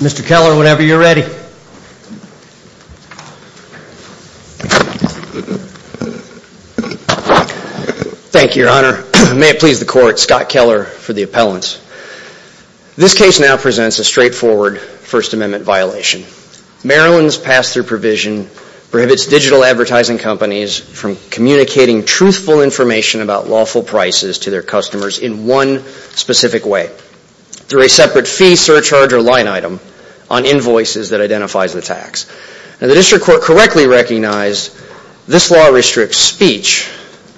Mr. Keller whenever you're ready Thank You your honor may it please the court Scott Keller for the appellants This case now presents a straightforward First Amendment violation Maryland's pass-through provision prohibits digital advertising companies from communicating truthful information about lawful prices to their customers in one specific way Through a separate fee surcharge or line item on invoices that identifies the tax and the district court correctly recognized This law restricts speech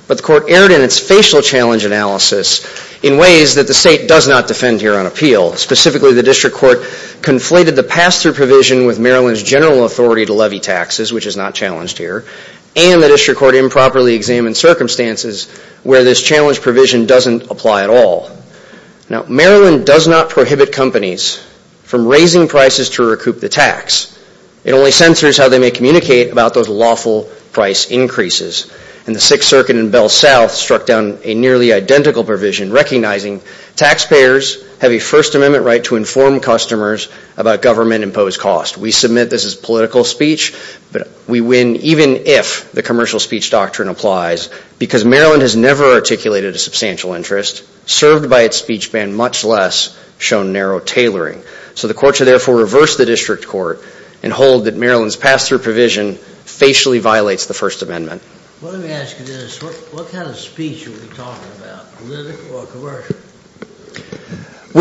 But the court erred in its facial challenge analysis in ways that the state does not defend here on appeal specifically the district court Conflated the pass-through provision with Maryland's general authority to levy taxes Which is not challenged here and the district court improperly examined circumstances where this challenge provision doesn't apply at all Now Maryland does not prohibit companies from raising prices to recoup the tax It only censors how they may communicate about those lawful price increases and the Sixth Circuit in Bell South struck down a nearly identical provision recognizing Taxpayers have a First Amendment right to inform customers about government imposed cost we submit this as political speech But we win even if the commercial speech doctrine applies because Maryland has never articulated a substantial interest served by its speech band much less shown narrow tailoring so the court should therefore reverse the district court and Hold that Maryland's pass-through provision Facially violates the First Amendment We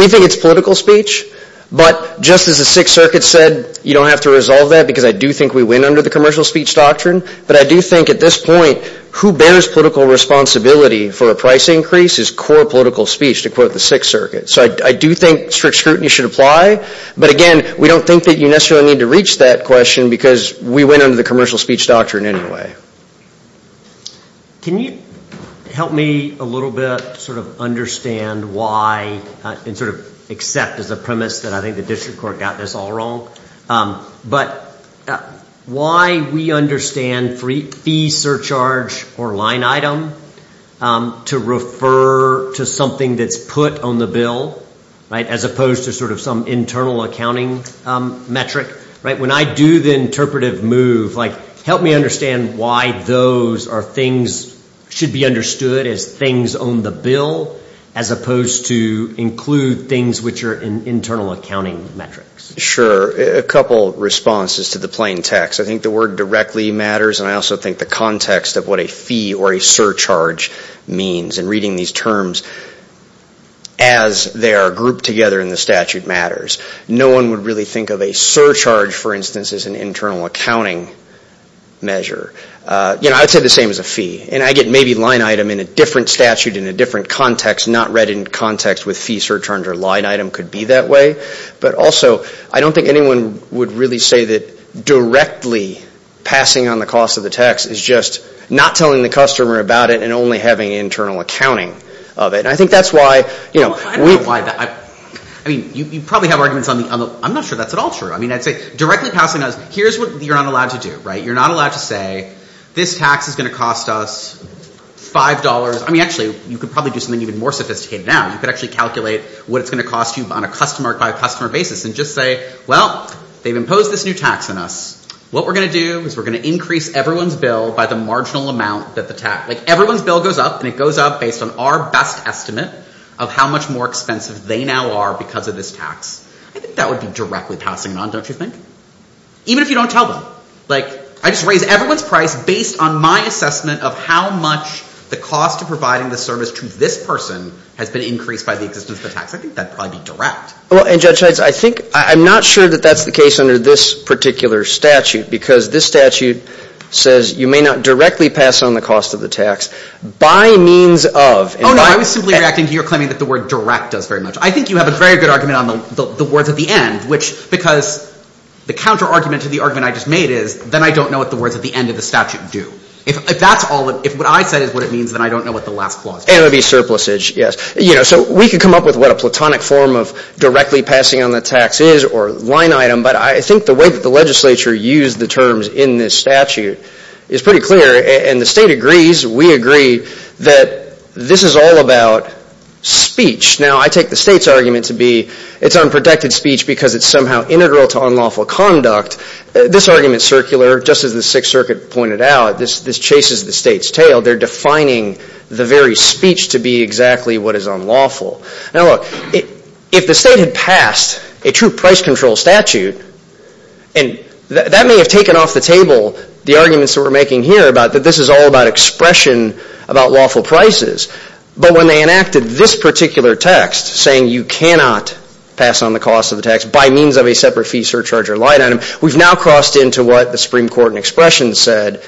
think it's political speech But just as the Sixth Circuit said you don't have to resolve that because I do think we win under the commercial speech doctrine But I do think at this point who bears political responsibility For a price increase is core political speech to quote the Sixth Circuit, so I do think strict scrutiny should apply But again, we don't think that you necessarily need to reach that question because we went under the commercial speech doctrine anyway Can you help me a little bit sort of understand why And sort of accept as a premise that I think the district court got this all wrong but Why we understand free fee surcharge or line item To refer to something that's put on the bill right as opposed to sort of some internal accounting Metric right when I do the interpretive move like help me understand Why those are things should be understood as things on the bill as opposed to? Include things which are in internal accounting metrics sure a couple responses to the plain text I think the word directly matters, and I also think the context of what a fee or a surcharge means and reading these terms as They are grouped together in the statute matters. No one would really think of a surcharge for instance as an internal accounting measure You know I'd say the same as a fee and I get maybe line item in a different statute in a different context not read in Context with fee surcharge or line item could be that way, but also. I don't think anyone would really say that directly Passing on the cost of the tax is just not telling the customer about it and only having internal accounting of it I think that's why you know why I I mean you probably have arguments on the I'm not sure that's at all true I mean, I'd say directly passing us. Here's what you're not allowed to do right. You're not allowed to say this tax is gonna cost us Five dollars, I mean actually you could probably do something even more sophisticated now You could actually calculate what it's gonna cost you on a customer by customer basis and just say well They've imposed this new tax on us What we're gonna do is we're gonna increase everyone's bill by the marginal amount that the tax like everyone's bill goes up And it goes up based on our best estimate of how much more expensive they now are because of this tax I think that would be directly passing on don't you think? Even if you don't tell them like I just raise everyone's price based on my assessment of how much The cost of providing the service to this person has been increased by the existence of the tax I think that probably direct well and judge heights I think I'm not sure that that's the case under this particular statute because this statute Says you may not directly pass on the cost of the tax by means of oh No, I was simply reacting to your claiming that the word direct does very much I think you have a very good argument on the words at the end which because The counter argument to the argument I just made is then I don't know what the words at the end of the statute do If that's all if what I said is what it means then I don't know what the last clause it would be surplus age Yes, you know so we could come up with what a platonic form of directly passing on the tax is or line item But I think the way that the legislature used the terms in this statute is pretty clear and the state agrees We agree that this is all about Speech now I take the state's argument to be it's unprotected speech because it's somehow integral to unlawful conduct This argument circular just as the Sixth Circuit pointed out this this chases the state's tail They're defining the very speech to be exactly what is unlawful now look if the state had passed a true price control statute and That may have taken off the table the arguments that we're making here about that This is all about expression about lawful prices But when they enacted this particular text saying you cannot pass on the cost of the tax by means of a separate fee surcharge or line item we've now crossed into what the Supreme Court and expression said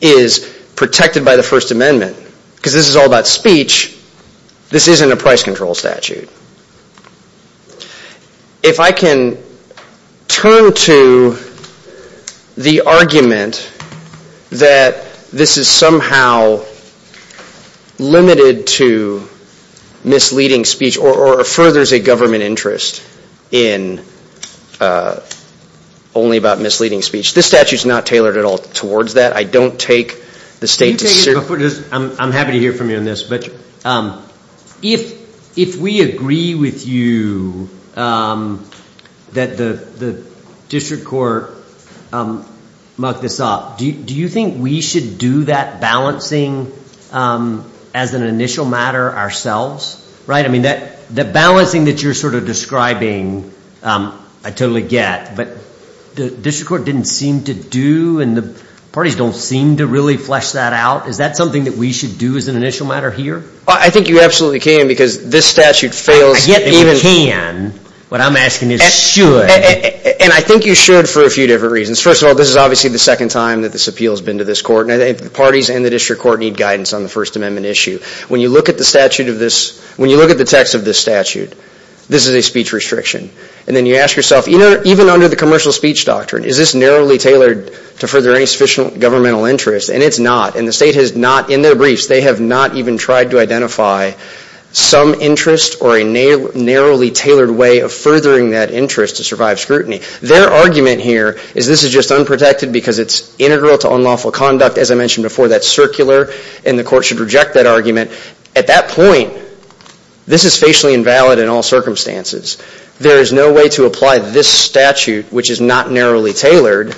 is Protected by the First Amendment because this is all about speech. This isn't a price control statute if I can turn to the argument That this is somehow Limited to misleading speech or furthers a government interest in Only about misleading speech this statute is not tailored at all towards that I don't take the state I'm happy to hear from you on this, but If if we agree with you That the the district court Mucked this up. Do you think we should do that balancing? As an initial matter ourselves, right? I mean that the balancing that you're sort of describing I totally get but the district court didn't seem to do and the Parties don't seem to really flesh that out. Is that something that we should do as an initial matter here? I think you absolutely can because this statute fails yet. You can what I'm asking is And I think you should for a few different reasons first of all This is obviously the second time that this appeals been to this court And I think the parties and the district court need guidance on the First Amendment issue When you look at the statute of this when you look at the text of this statute This is a speech restriction and then you ask yourself, you know, even under the commercial speech doctrine Is this narrowly tailored to further any sufficient governmental interest and it's not and the state has not in their briefs They have not even tried to identify Some interest or a narrowly tailored way of furthering that interest to survive scrutiny their argument here is this is just unprotected because it's Integral to unlawful conduct as I mentioned before that's circular and the court should reject that argument at that point This is facially invalid in all circumstances. There is no way to apply this statute, which is not narrowly tailored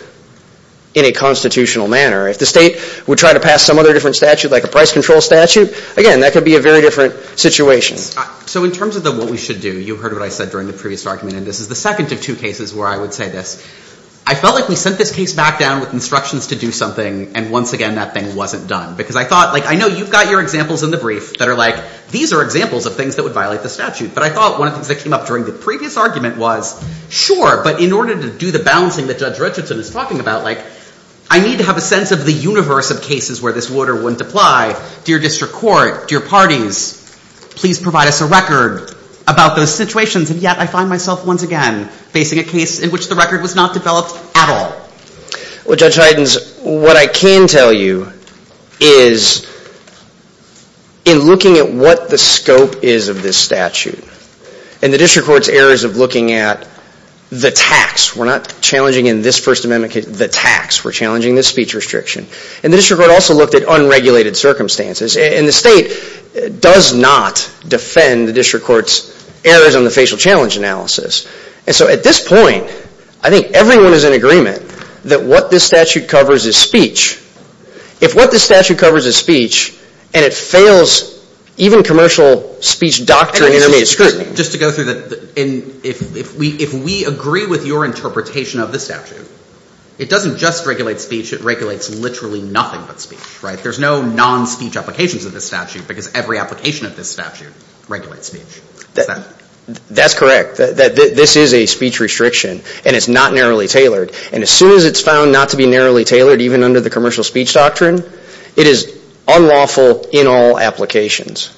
In a constitutional manner if the state would try to pass some other different statute like a price control statute again That could be a very different situation so in terms of the what we should do you heard what I said during the previous argument and this is the second of two cases where I would say this I Felt like we sent this case back down with instructions to do something and once again that thing wasn't done because I thought like I Know you've got your examples in the brief that are like these are examples of things that would violate the statute but I thought one of the things that came up during the previous argument was Sure but in order to do the balancing that judge Richardson is talking about like I Need to have a sense of the universe of cases where this would or wouldn't apply Dear district court dear parties Please provide us a record about those situations and yet I find myself once again Facing a case in which the record was not developed at all Well judge Heiden's what I can tell you is In looking at what the scope is of this statute and the district courts errors of looking at The tax we're not challenging in this First Amendment case the tax We're challenging this speech restriction and the district court also looked at unregulated circumstances and the state Does not defend the district courts errors on the facial challenge analysis And so at this point, I think everyone is in agreement that what this statute covers is speech If what the statute covers is speech and it fails even commercial speech doctor Just to go through that in if we if we agree with your interpretation of the statute It doesn't just regulate speech it regulates literally nothing but speech, right? There's no non-speech applications of this statute because every application of this statute regulates speech That's correct that this is a speech restriction and it's not narrowly tailored and as soon as it's found not to be narrowly tailored Even under the commercial speech doctrine it is unlawful in all applications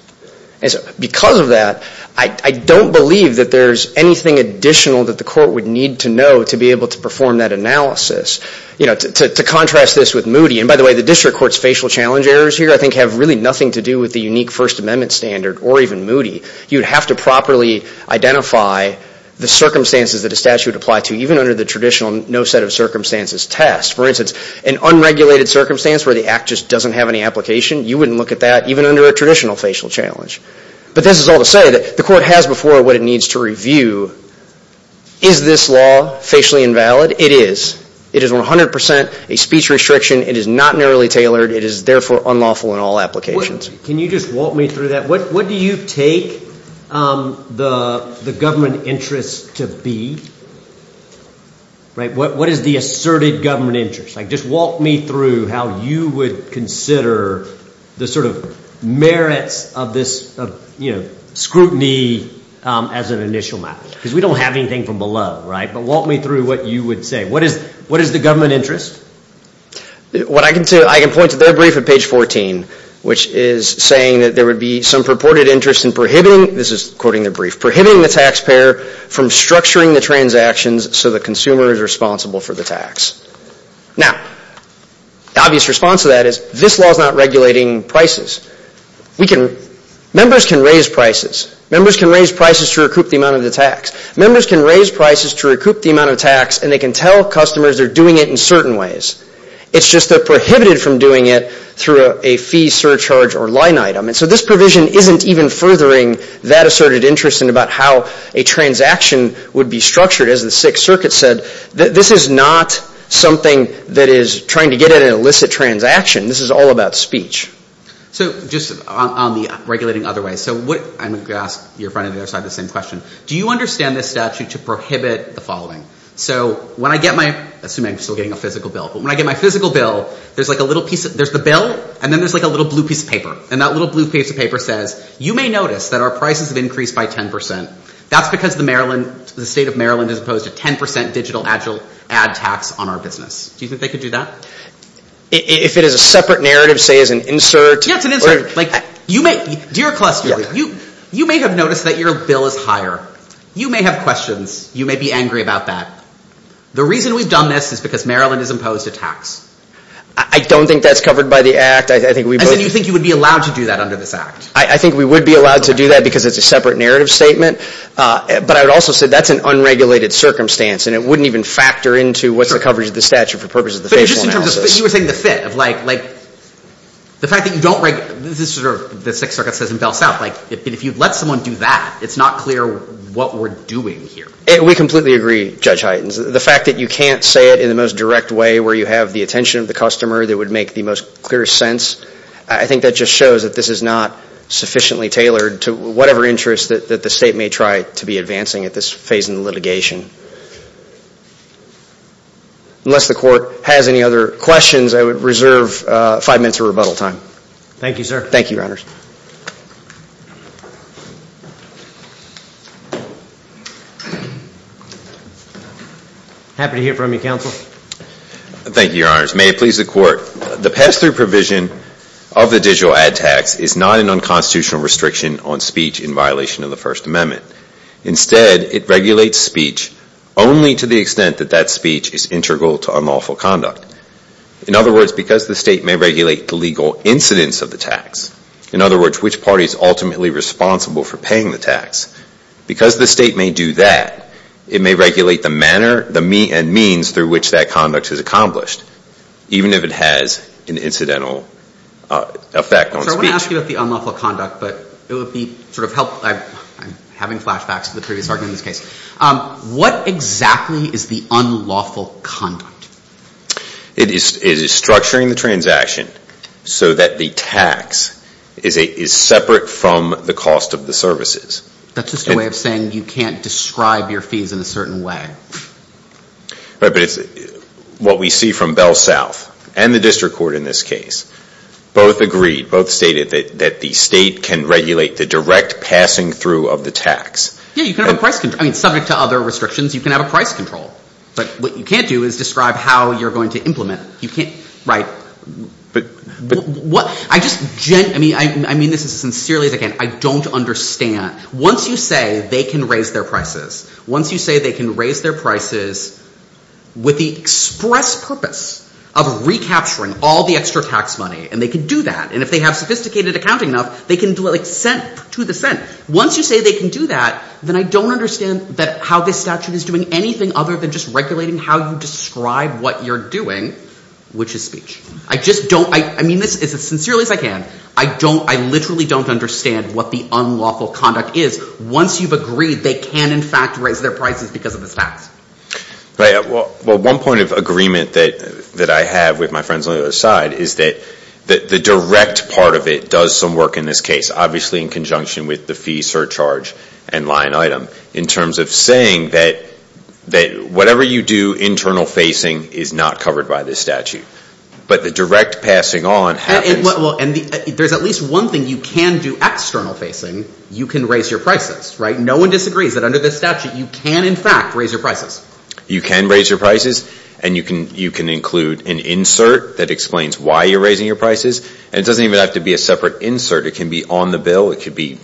And so because of that I don't believe that there's anything Additional that the court would need to know to be able to perform that analysis You know to contrast this with Moody and by the way, the district courts facial challenge errors here I think have really nothing to do with the unique First Amendment standard or even Moody. You'd have to properly identify the circumstances that a statute apply to even under the traditional no set of circumstances test for instance an Unregulated circumstance where the act just doesn't have any application. You wouldn't look at that even under a traditional facial challenge But this is all to say that the court has before what it needs to review is This law facially invalid it is it is 100% a speech restriction. It is not narrowly tailored It is therefore unlawful in all applications. Can you just walk me through that? What what do you take? the the government interest to be Right, what what is the asserted government interest like just walk me through how you would consider the sort of covariance of this of you know Scrutiny as an initial matter because we don't have anything from below right but walk me through what you would say What is what is the government interest? What I can say I can point to their brief at page 14 Which is saying that there would be some purported interest in prohibiting this is quoting the brief prohibiting the taxpayer from structuring the transactions So the consumer is responsible for the tax now Obvious response to that is this law is not regulating prices We can Members can raise prices Members can raise prices to recoup the amount of the tax Members can raise prices to recoup the amount of tax and they can tell customers they're doing it in certain ways It's just they're prohibited from doing it through a fee surcharge or line item and so this provision isn't even furthering that asserted interest in about how a Transaction would be structured as the Sixth Circuit said that this is not Something that is trying to get it an illicit transaction. This is all about speech So just on the regulating other way, so what I'm gonna ask your front of the other side the same question Do you understand this statute to prohibit the following? So when I get my assuming still getting a physical bill, but when I get my physical bill There's like a little piece of there's the bill and then there's like a little blue piece of paper and that little blue piece Of paper says you may notice that our prices have increased by 10% That's because the Maryland the state of Maryland is opposed to 10% digital agile ad tax on our business Do you think they could do that? If it is a separate narrative say as an insert Yeah, it's an insert like you may dear cluster you you may have noticed that your bill is higher You may have questions. You may be angry about that The reason we've done this is because Maryland is imposed a tax. I Don't think that's covered by the act I think we believe you think you would be allowed to do that under this act I think we would be allowed to do that because it's a separate narrative statement But I would also say that's an unregulated Circumstance and it wouldn't even factor into what's the coverage of the statute for purposes of the facial analysis You were saying the fit of like like The fact that you don't write this is sort of the Sixth Circuit says in Bell South like if you've let someone do that It's not clear what we're doing here And we completely agree judge heightens the fact that you can't say it in the most direct way where you have the attention of the Customer that would make the most clear sense I think that just shows that this is not Sufficiently tailored to whatever interest that the state may try to be advancing at this phase in the litigation Unless the court has any other questions, I would reserve five minutes of rebuttal time. Thank you, sir. Thank you your honors Happy to hear from you counsel Thank you, your honors may it please the court the pass-through provision of the digital ad tax is not an unconstitutional Restriction on speech in violation of the First Amendment Instead it regulates speech only to the extent that that speech is integral to unlawful conduct In other words because the state may regulate the legal incidence of the tax in other words Which party is ultimately responsible for paying the tax? Because the state may do that it may regulate the manner the me and means through which that conduct is accomplished Even if it has an incidental Effect on speech about the unlawful conduct, but it would be sort of help Having flashbacks to the previous arguments case What exactly is the unlawful conduct? It is is structuring the transaction so that the tax is a is separate from the cost of the services That's just a way of saying you can't describe your fees in a certain way But it's what we see from Bell South and the district court in this case Both agreed both stated that that the state can regulate the direct passing through of the tax Yeah, you can have a price can I mean subject to other restrictions? You can have a price control, but what you can't do is describe how you're going to implement. You can't write But what I just gen I mean, I mean this is sincerely again I don't understand once you say they can raise their prices once you say they can raise their prices with the express purpose of Recapturing all the extra tax money and they can do that And if they have sophisticated accounting enough, they can do it like sent to the Senate once you say they can do that Then I don't understand that how this statute is doing anything other than just regulating how you describe what you're doing Which is speech I just don't I mean this is as sincerely as I can I don't I literally don't understand what the unlawful conduct is Once you've agreed they can in fact raise their prices because of this tax Right. Well, well one point of agreement that that I have with my friends on the other side Is that that the direct part of it does some work in this case? obviously in conjunction with the fee surcharge and line item in terms of saying that That whatever you do internal facing is not covered by this statute But the direct passing on and there's at least one thing you can do external facing you can raise your prices, right? No one disagrees that under this statute you can in fact raise your prices You can raise your prices and you can you can include an insert that explains why you're raising your prices And it doesn't even have to be a separate insert. It can be on the bill It could be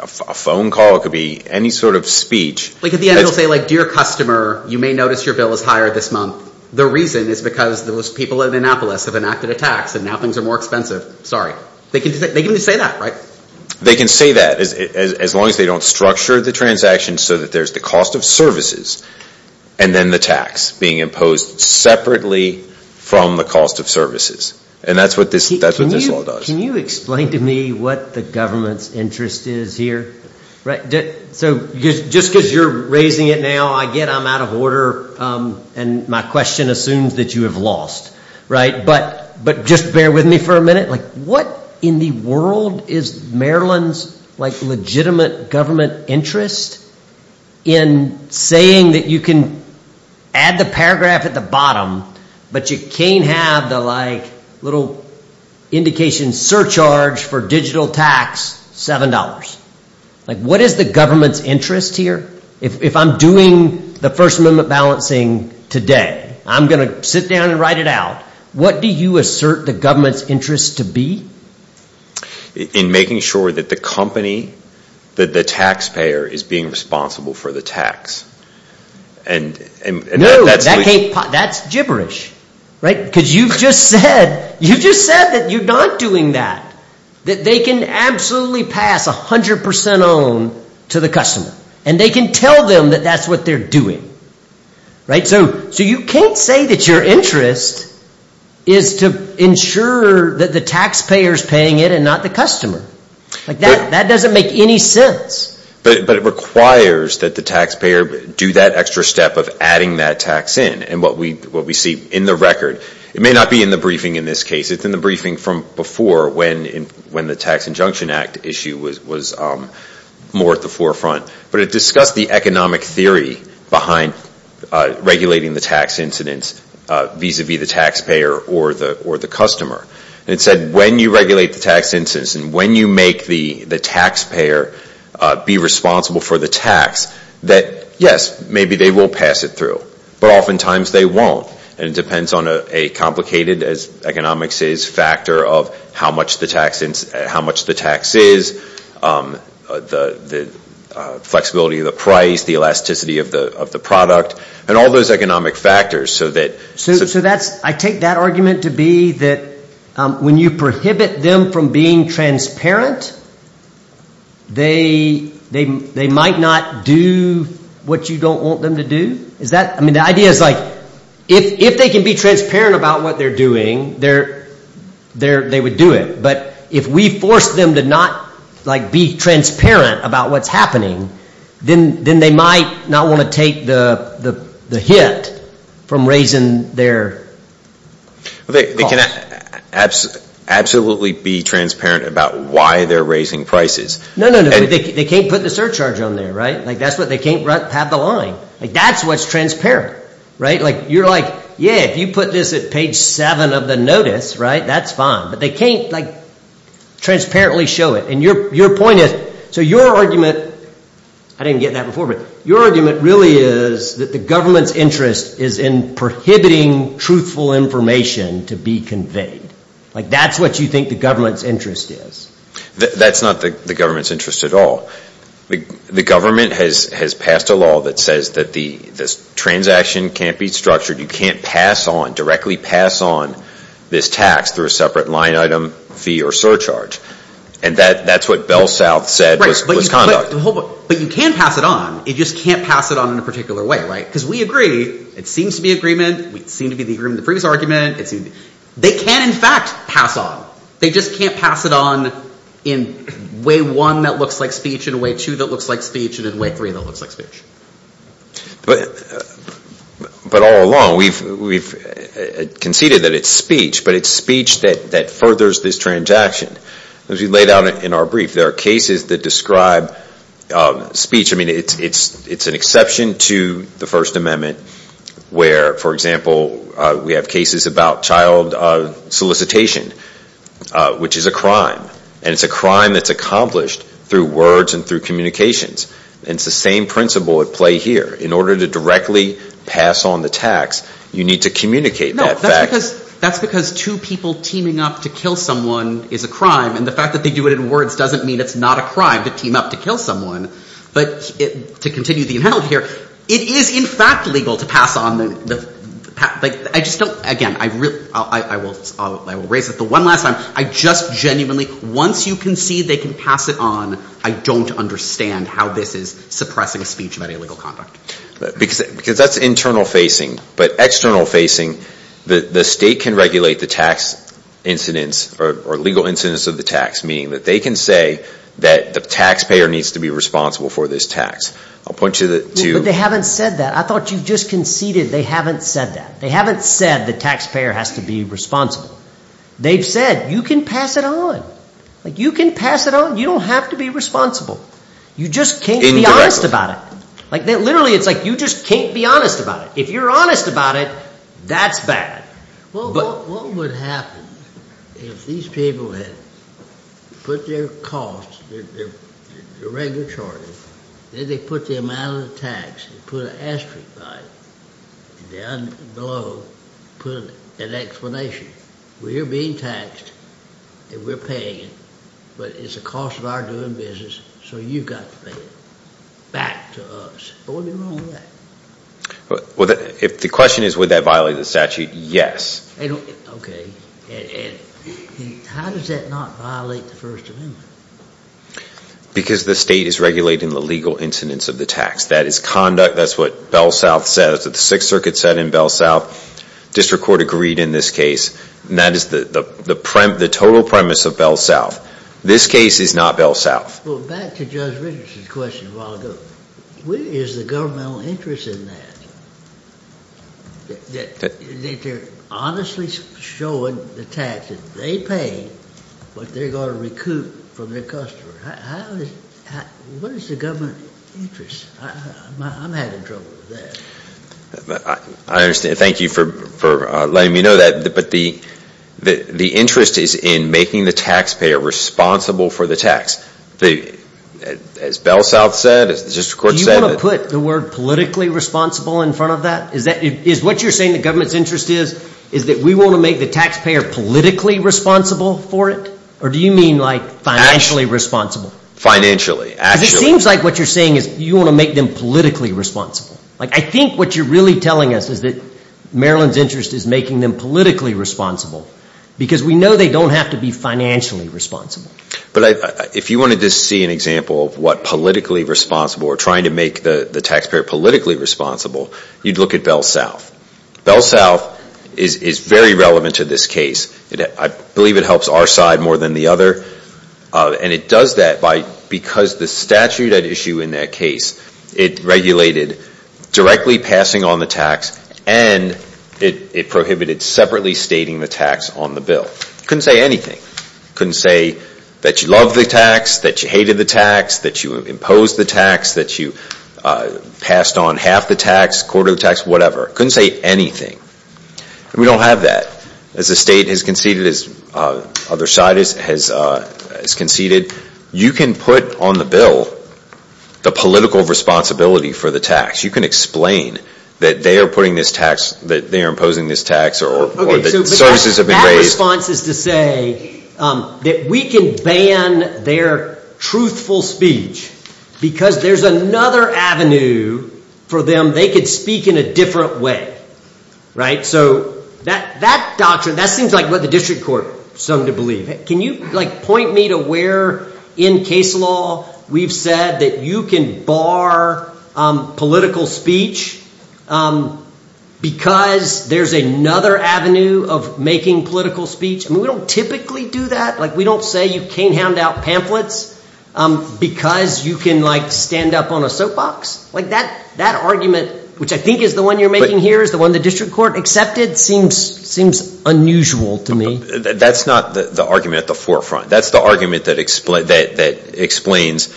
a phone call could be any sort of speech Like at the end it'll say like dear customer You may notice your bill is higher this month The reason is because those people in Annapolis have enacted a tax and now things are more expensive Sorry, they can they can just say that right they can say that as long as they don't structure the transaction so that there's the cost of services and Then the tax being imposed separately from the cost of services and that's what this that's what this law does Can you explain to me what the government's interest is here, right? So just because you're raising it now I get I'm out of order and my question assumes that you have lost Right, but but just bear with me for a minute Like what in the world is Maryland's like legitimate government interest? in saying that you can add the paragraph at the bottom, but you can't have the like little Indication surcharge for digital tax $7 like what is the government's interest here? If I'm doing the First Amendment balancing today, I'm gonna sit down and write it out What do you assert the government's interest to be? in making sure that the company that the taxpayer is being responsible for the tax and And That's gibberish, right because you've just said you just said that you're not doing that That they can absolutely pass a hundred percent on to the customer and they can tell them that that's what they're doing Right. So so you can't say that your interest is To ensure that the taxpayers paying it and not the customer like that that doesn't make any sense But but it requires that the taxpayer do that extra step of adding that tax in and what we what we see in the record It may not be in the briefing in this case It's in the briefing from before when in when the Tax Injunction Act issue was was More at the forefront, but it discussed the economic theory behind regulating the tax incidence Vis-a-vis the taxpayer or the or the customer and it said when you regulate the tax instance and when you make the the taxpayer Be responsible for the tax that yes maybe they will pass it through but oftentimes they won't and it depends on a Complicated as economics is factor of how much the tax since how much the tax is the the flexibility of the price the elasticity of the of the product and all those economic factors so that So that's I take that argument to be that When you prohibit them from being transparent They They they might not do What you don't want them to do is that I mean the idea is like if if they can be transparent about what they're doing they're There they would do it, but if we force them to not like be transparent about what's happening then then they might not want to take the the the hit from raising their They can Absolutely absolutely be transparent about why they're raising prices No, no, they can't put the surcharge on there, right? Like that's what they can't run have the line Like that's what's transparent, right? Like you're like, yeah, if you put this at page seven of the notice, right? That's fine, but they can't like Transparently show it and your your point is so your argument I didn't get that before but your argument really is that the government's interest is in prohibiting Truthful information to be conveyed like that's what you think the government's interest is That's not the government's interest at all The the government has has passed a law that says that the this transaction can't be structured you can't pass on directly pass on this tax through a separate line item fee or surcharge and That that's what Bell South said But you can't pass it on it just can't pass it on in a particular way, right? Because we agree it seems to be agreement. We seem to be the agreement the previous argument It's they can in fact pass on they just can't pass it on in Way one that looks like speech in a way to that looks like speech and in way three that looks like speech but but all along we've we've Conceded that it's speech, but it's speech that that furthers this transaction as we laid out in our brief. There are cases that describe Speech I mean, it's it's it's an exception to the First Amendment Where for example, we have cases about child solicitation Which is a crime and it's a crime that's accomplished through words and through communications And it's the same principle at play here in order to directly pass on the tax. You need to communicate that That's because two people teaming up to kill someone is a crime and the fact that they do it in words doesn't mean it's not A crime to team up to kill someone but it to continue the amount here. It is in fact legal to pass on Like I just don't again. I really I will I will raise it the one last time I just genuinely once you can see they can pass it on I don't understand how this is suppressing a speech about illegal conduct Because because that's internal facing but external facing the the state can regulate the tax Incidents or legal incidents of the tax meaning that they can say that the taxpayer needs to be responsible for this tax I'll point you to they haven't said that I thought you just conceded they haven't said that they haven't said the taxpayer has to be Responsible they've said you can pass it on like you can pass it on You don't have to be responsible You just can't be honest about it like that. Literally. It's like you just can't be honest about it if you're honest about it That's bad If these people had put their costs Regulatory then they put the amount of tax and put an asterisk Below put an explanation. We're being taxed and we're paying it But it's a cost of our doing business. So you got to pay it back to us Well, if the question is would that violate the statute yes Okay Because the state is regulating the legal incidents of the tax that is conduct That's what Bell South says that the Sixth Circuit said in Bell South District Court agreed in this case and that is the the prime the total premise of Bell South. This case is not Bell South Where is the governmental interest in that? That they're honestly showing the tax that they pay but they're going to recoup from their customers What is the government interest? I'm having trouble with that I understand. Thank you for letting me know that but the The interest is in making the taxpayer responsible for the tax The As Bell South said it's just a court said you want to put the word Politically responsible in front of that is that it is what you're saying The government's interest is is that we want to make the taxpayer politically responsible for it Or do you mean like financially responsible financially? It seems like what you're saying is you want to make them politically responsible Like I think what you're really telling us is that Maryland's interest is making them politically responsible Because we know they don't have to be financially responsible But I if you wanted to see an example of what politically responsible or trying to make the the taxpayer politically responsible You'd look at Bell South Bell South is is very relevant to this case. I believe it helps our side more than the other And it does that by because the statute at issue in that case it regulated directly passing on the tax and It prohibited separately stating the tax on the bill couldn't say anything Couldn't say that you love the tax that you hated the tax that you imposed the tax that you Passed on half the tax quarter the tax whatever couldn't say anything We don't have that as the state has conceded as other side is has Conceded you can put on the bill The political responsibility for the tax you can explain that they are putting this tax that they are imposing this tax or the services Responses to say That we can ban their truthful speech Because there's another avenue For them they could speak in a different way Right, so that that doctrine that seems like what the district court some to believe it Can you like point me to where in case law? We've said that you can bar political speech Because there's another avenue of making political speech, and we don't typically do that like we don't say you can't hand out pamphlets Because you can like stand up on a soapbox like that that argument Which I think is the one you're making here is the one the district court except it seems seems unusual to me That's not the argument at the forefront. That's the argument that explains that that explains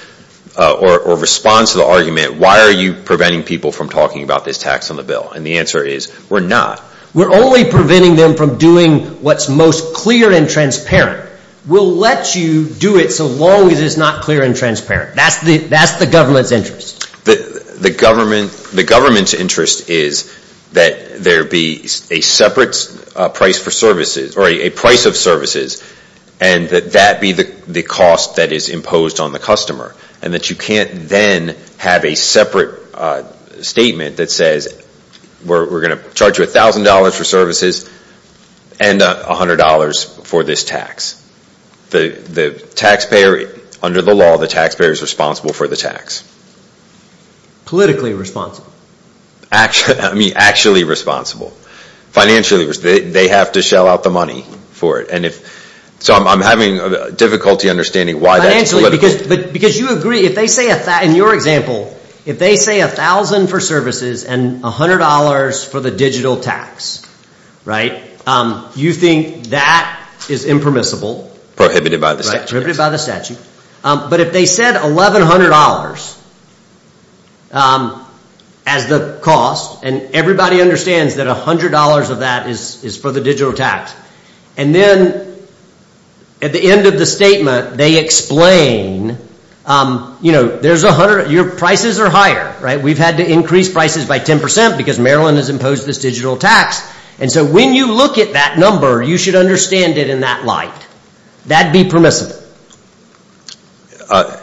Or responds to the argument Why are you preventing people from talking about this tax on the bill and the answer is we're not we're only preventing them from doing What's most clear and transparent? We'll let you do it so long as it's not clear and transparent That's the that's the government's interest the the government the government's interest is that there be a separate price for services or a price of services and That that be the the cost that is imposed on the customer and that you can't then have a separate statement that says we're going to charge you a thousand dollars for services and $100 for this tax the the taxpayer under the law the taxpayer is responsible for the tax Politically responsible Actually, I mean actually responsible Financially they have to shell out the money for it And if so, I'm having a difficulty understanding why they actually because but because you agree if they say if that in your example If they say a thousand for services and a hundred dollars for the digital tax Right, you think that is impermissible prohibited by the statute by the statute but if they said $1,100 As The cost and everybody understands that a hundred dollars of that is is for the digital tax and then At the end of the statement they explain You know, there's a hundred your prices are higher, right? We've had to increase prices by 10% because Maryland has imposed this digital tax And so when you look at that number, you should understand it in that light That'd be permissible I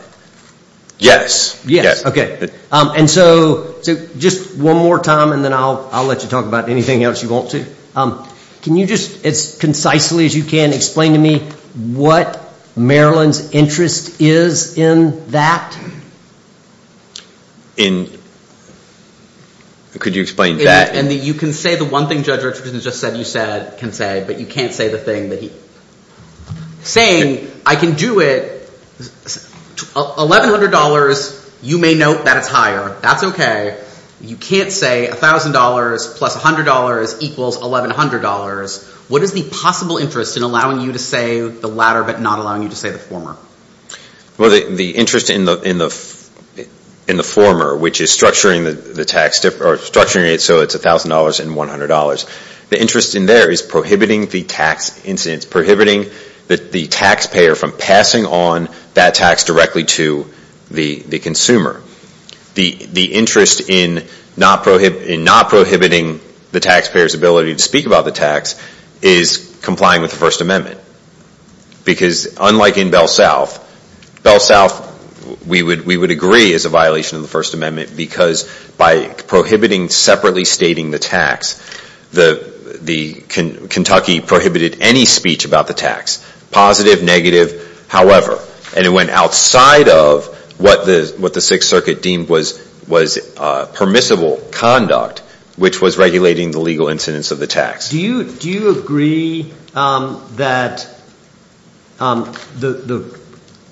Yes, yes, okay And so so just one more time and then I'll I'll let you talk about anything else you want to Um, can you just it's concisely as you can explain to me what? Maryland's interest is in that In Could you explain that and that you can say the one thing judge Richardson just said you said can say but you can't say the thing that he Saying I can do it $1,100 you may note that it's higher. That's okay You can't say $1,000 plus $100 equals $1,100 What is the possible interest in allowing you to say the latter but not allowing you to say the former? Well the interest in the in the in the former which is structuring the tax tip or structuring it So it's $1,000 and $100 the interest in there is prohibiting the tax incidents prohibiting that the taxpayer from passing on that tax directly to the the consumer the the interest in not prohibit in not prohibiting the taxpayers ability to speak about the tax is complying with the First Amendment because unlike in Bell South Bell South We would we would agree as a violation of the First Amendment because by prohibiting separately stating the tax the the Kentucky prohibited any speech about the tax positive negative however, and it went outside of what the what the Sixth Circuit deemed was was Permissible conduct which was regulating the legal incidence of the tax. Do you do you agree? that The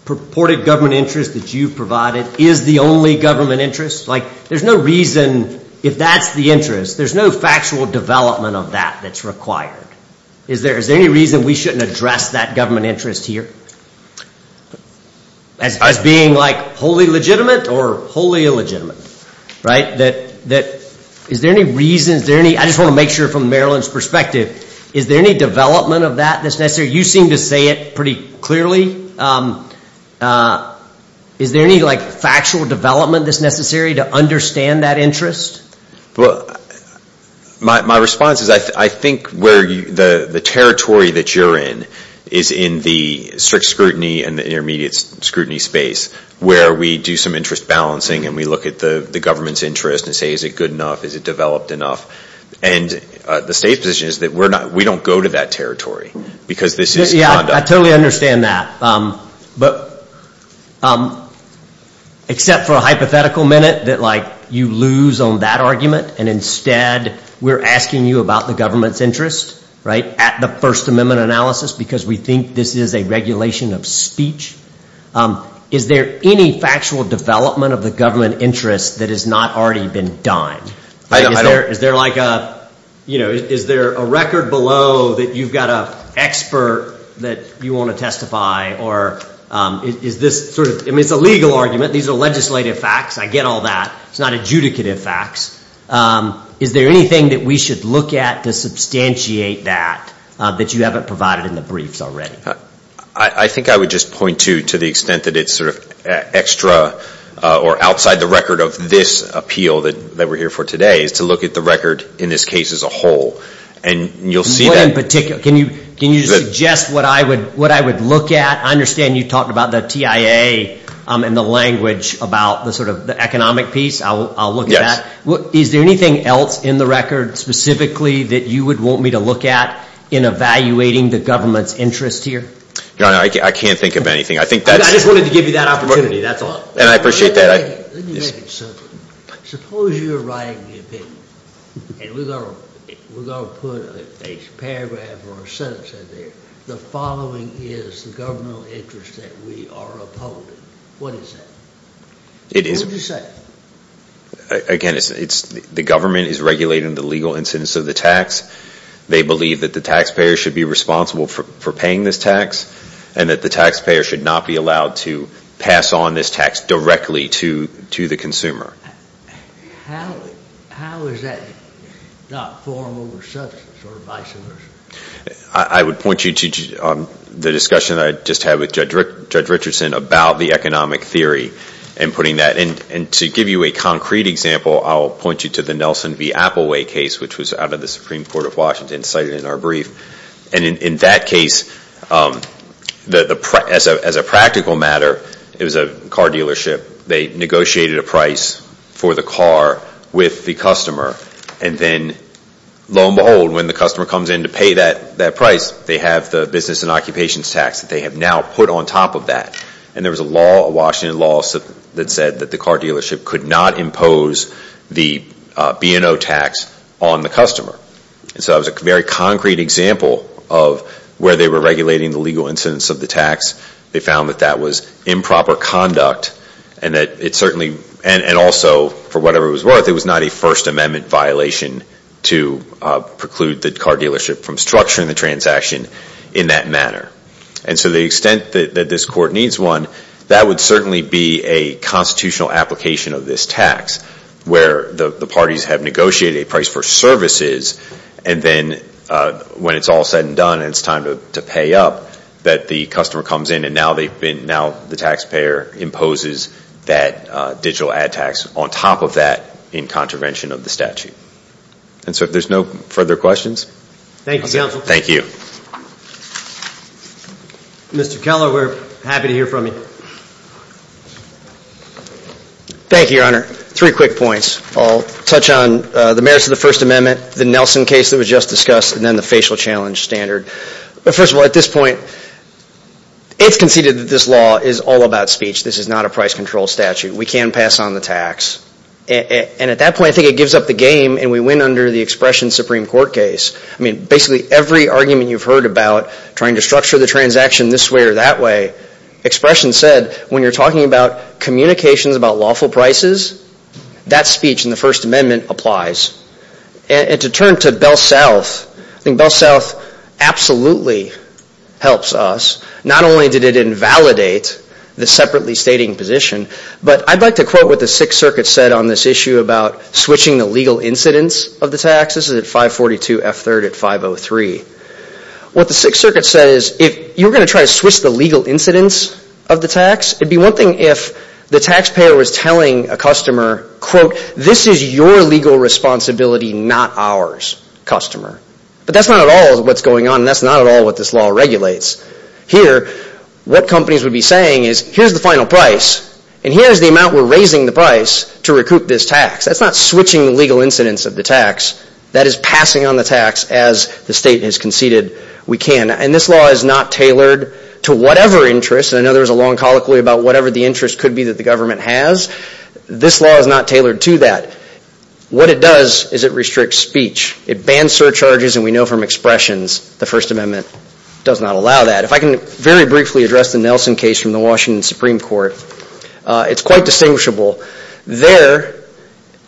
Purported government interest that you've provided is the only government interest like there's no reason if that's the interest There's no factual development of that that's required. Is there is there any reason we shouldn't address that government interest here? As being like wholly legitimate or wholly illegitimate Right that that is there any reasons there any I just want to make sure from Maryland's perspective Is there any development of that that's necessary you seem to say it pretty clearly Is there any like factual development that's necessary to understand that interest well my response is I think where you the the territory that you're in is in the strict scrutiny and the intermediate scrutiny space where we do some interest balancing and we look at the the government's interest and say is it good enough is it developed enough and The state position is that we're not we don't go to that territory because this is yeah, I totally understand that but Except for a hypothetical minute that like you lose on that argument and instead We're asking you about the government's interest right at the First Amendment analysis because we think this is a regulation of speech Is there any factual development of the government interest that has not already been done? Is there like a you know, is there a record below that you've got a expert that you want to testify or Is this sort of it's a legal argument. These are legislative facts. I get all that. It's not adjudicative facts Is there anything that we should look at to substantiate that that you haven't provided in the briefs already? I think I would just point to to the extent that it's sort of extra Or outside the record of this appeal that that we're here for today is to look at the record in this case as a whole and You'll see that in particular. Can you can you suggest what I would what I would look at? I understand you talked about the TIA and the language about the sort of the economic piece. I'll look at what is there anything else in? The record specifically that you would want me to look at in evaluating the government's interest here. You know, I can't think of anything I think that I just wanted to give you that opportunity. That's all and I appreciate that Suppose you're right The following is the governmental interest that we are It is Again, it's it's the government is regulating the legal incidence of the tax They believe that the taxpayer should be responsible for paying this tax and that the taxpayer should not be allowed to Pass on this tax directly to to the consumer I would point you to The discussion I just had with judge Rick judge Richardson about the economic theory and putting that in and to give you a concrete example I'll point you to the Nelson v. Apple way case which was out of the Supreme Court of Washington cited in our brief and in that case The press as a practical matter. It was a car dealership they negotiated a price for the car with the customer and then Lo and behold when the customer comes in to pay that that price They have the business and occupations tax that they have now put on top of that and there was a law a Washington law That said that the car dealership could not impose the B&O tax on the customer. And so I was a very concrete example of Where they were regulating the legal incidence of the tax They found that that was improper conduct and that it certainly and and also for whatever it was worth it was not a First Amendment violation to preclude the car dealership from structuring the transaction in that manner and So the extent that this court needs one that would certainly be a constitutional application of this tax where the the parties have negotiated a price for services and then When it's all said and done and it's time to pay up that the customer comes in and now they've been now the taxpayer Imposes that digital ad tax on top of that in contravention of the statute And so if there's no further questions, thank you. Thank you Mr. Keller, we're happy to hear from you Thank You your honor three quick points I'll touch on the merits of the First Amendment the Nelson case that was just discussed and then the facial challenge standard But first of all at this point It's conceded that this law is all about speech. This is not a price control statute. We can pass on the tax And at that point I think it gives up the game and we win under the expression Supreme Court case I mean basically every argument you've heard about trying to structure the transaction this way or that way expression said when you're talking about communications about lawful prices That speech in the First Amendment applies And to turn to Bell South I think Bell South Absolutely Helps us not only did it invalidate the separately stating position But I'd like to quote what the Sixth Circuit said on this issue about switching the legal incidence of the taxes at 542 F 3rd at 503 What the Sixth Circuit says if you're going to try to switch the legal incidence of the tax It'd be one thing if the taxpayer was telling a customer quote. This is your legal responsibility Not ours customer, but that's not at all what's going on. That's not at all what this law regulates here What companies would be saying is here's the final price and here's the amount we're raising the price to recoup this tax That's not switching the legal incidence of the tax That is passing on the tax as the state has conceded We can and this law is not tailored to whatever interest and another is a long colloquy about whatever the interest could be that the government Has this law is not tailored to that? What it does is it restricts speech it bans surcharges and we know from expressions the First Amendment Does not allow that if I can very briefly address the Nelson case from the Washington Supreme Court It's quite distinguishable there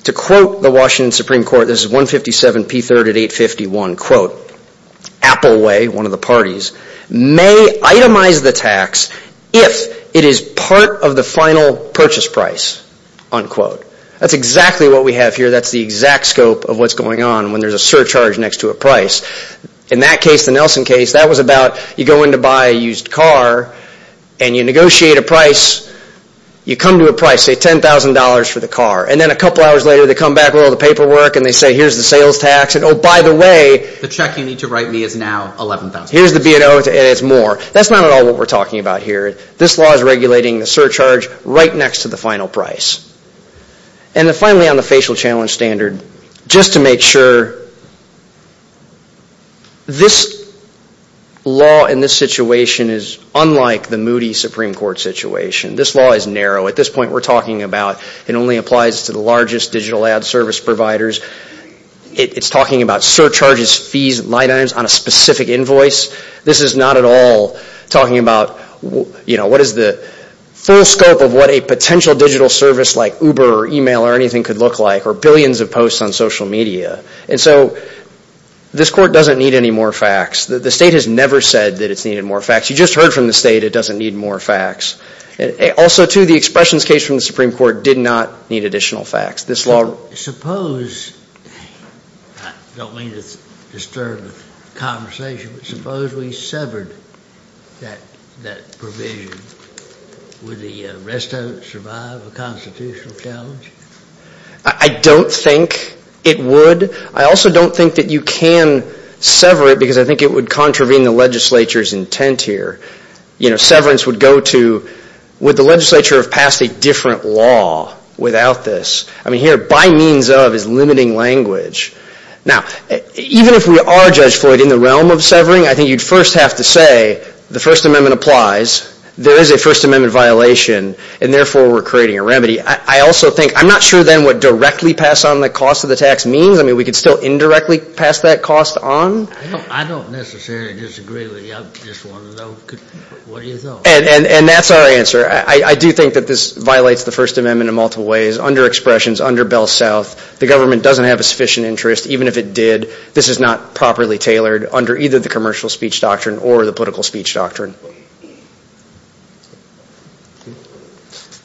To quote the Washington Supreme Court. This is 157 p3 at 851 quote Apple way one of the parties may itemize the tax if it is part of the final purchase price Unquote that's exactly what we have here That's the exact scope of what's going on when there's a surcharge next to a price in that case the Nelson case That was about you go in to buy a used car and you negotiate a price You come to a price say ten thousand dollars for the car and then a couple hours later They come back with all the paperwork and they say here's the sales tax and oh, by the way The check you need to write me is now 11,000. Here's the B&O and it's more that's not at all what we're talking about here this law is regulating the surcharge right next to the final price and The finally on the facial challenge standard just to make sure This Law in this situation is unlike the Moody Supreme Court situation. This law is narrow at this point We're talking about it only applies to the largest digital ad service providers It's talking about surcharges fees and line items on a specific invoice. This is not at all talking about you know, what is the full scope of what a potential digital service like uber or email or anything could look like or billions of posts on social media and This court doesn't need any more facts. The state has never said that it's needed more facts. You just heard from the state It doesn't need more facts and also to the expressions case from the Supreme Court did not need additional facts this law suppose Don't mean to disturb the conversation suppose we severed With the rest of it survive a constitutional challenge I Don't think it would I also don't think that you can Sever it because I think it would contravene the legislature's intent here, you know severance would go to With the legislature have passed a different law without this. I mean here by means of is limiting language Now even if we are judge Floyd in the realm of severing I think you'd first have to say the First Amendment applies. There is a First Amendment violation and therefore we're creating a remedy I also think I'm not sure then what directly pass on the cost of the tax means I mean we could still indirectly pass that cost on And and that's our answer I do think that this violates the First Amendment in multiple ways under expressions under Bell South The government doesn't have a sufficient interest Even if it did this is not properly tailored under either the commercial speech doctrine or the political speech doctrine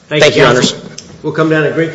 Thank You honest we'll come down to Greek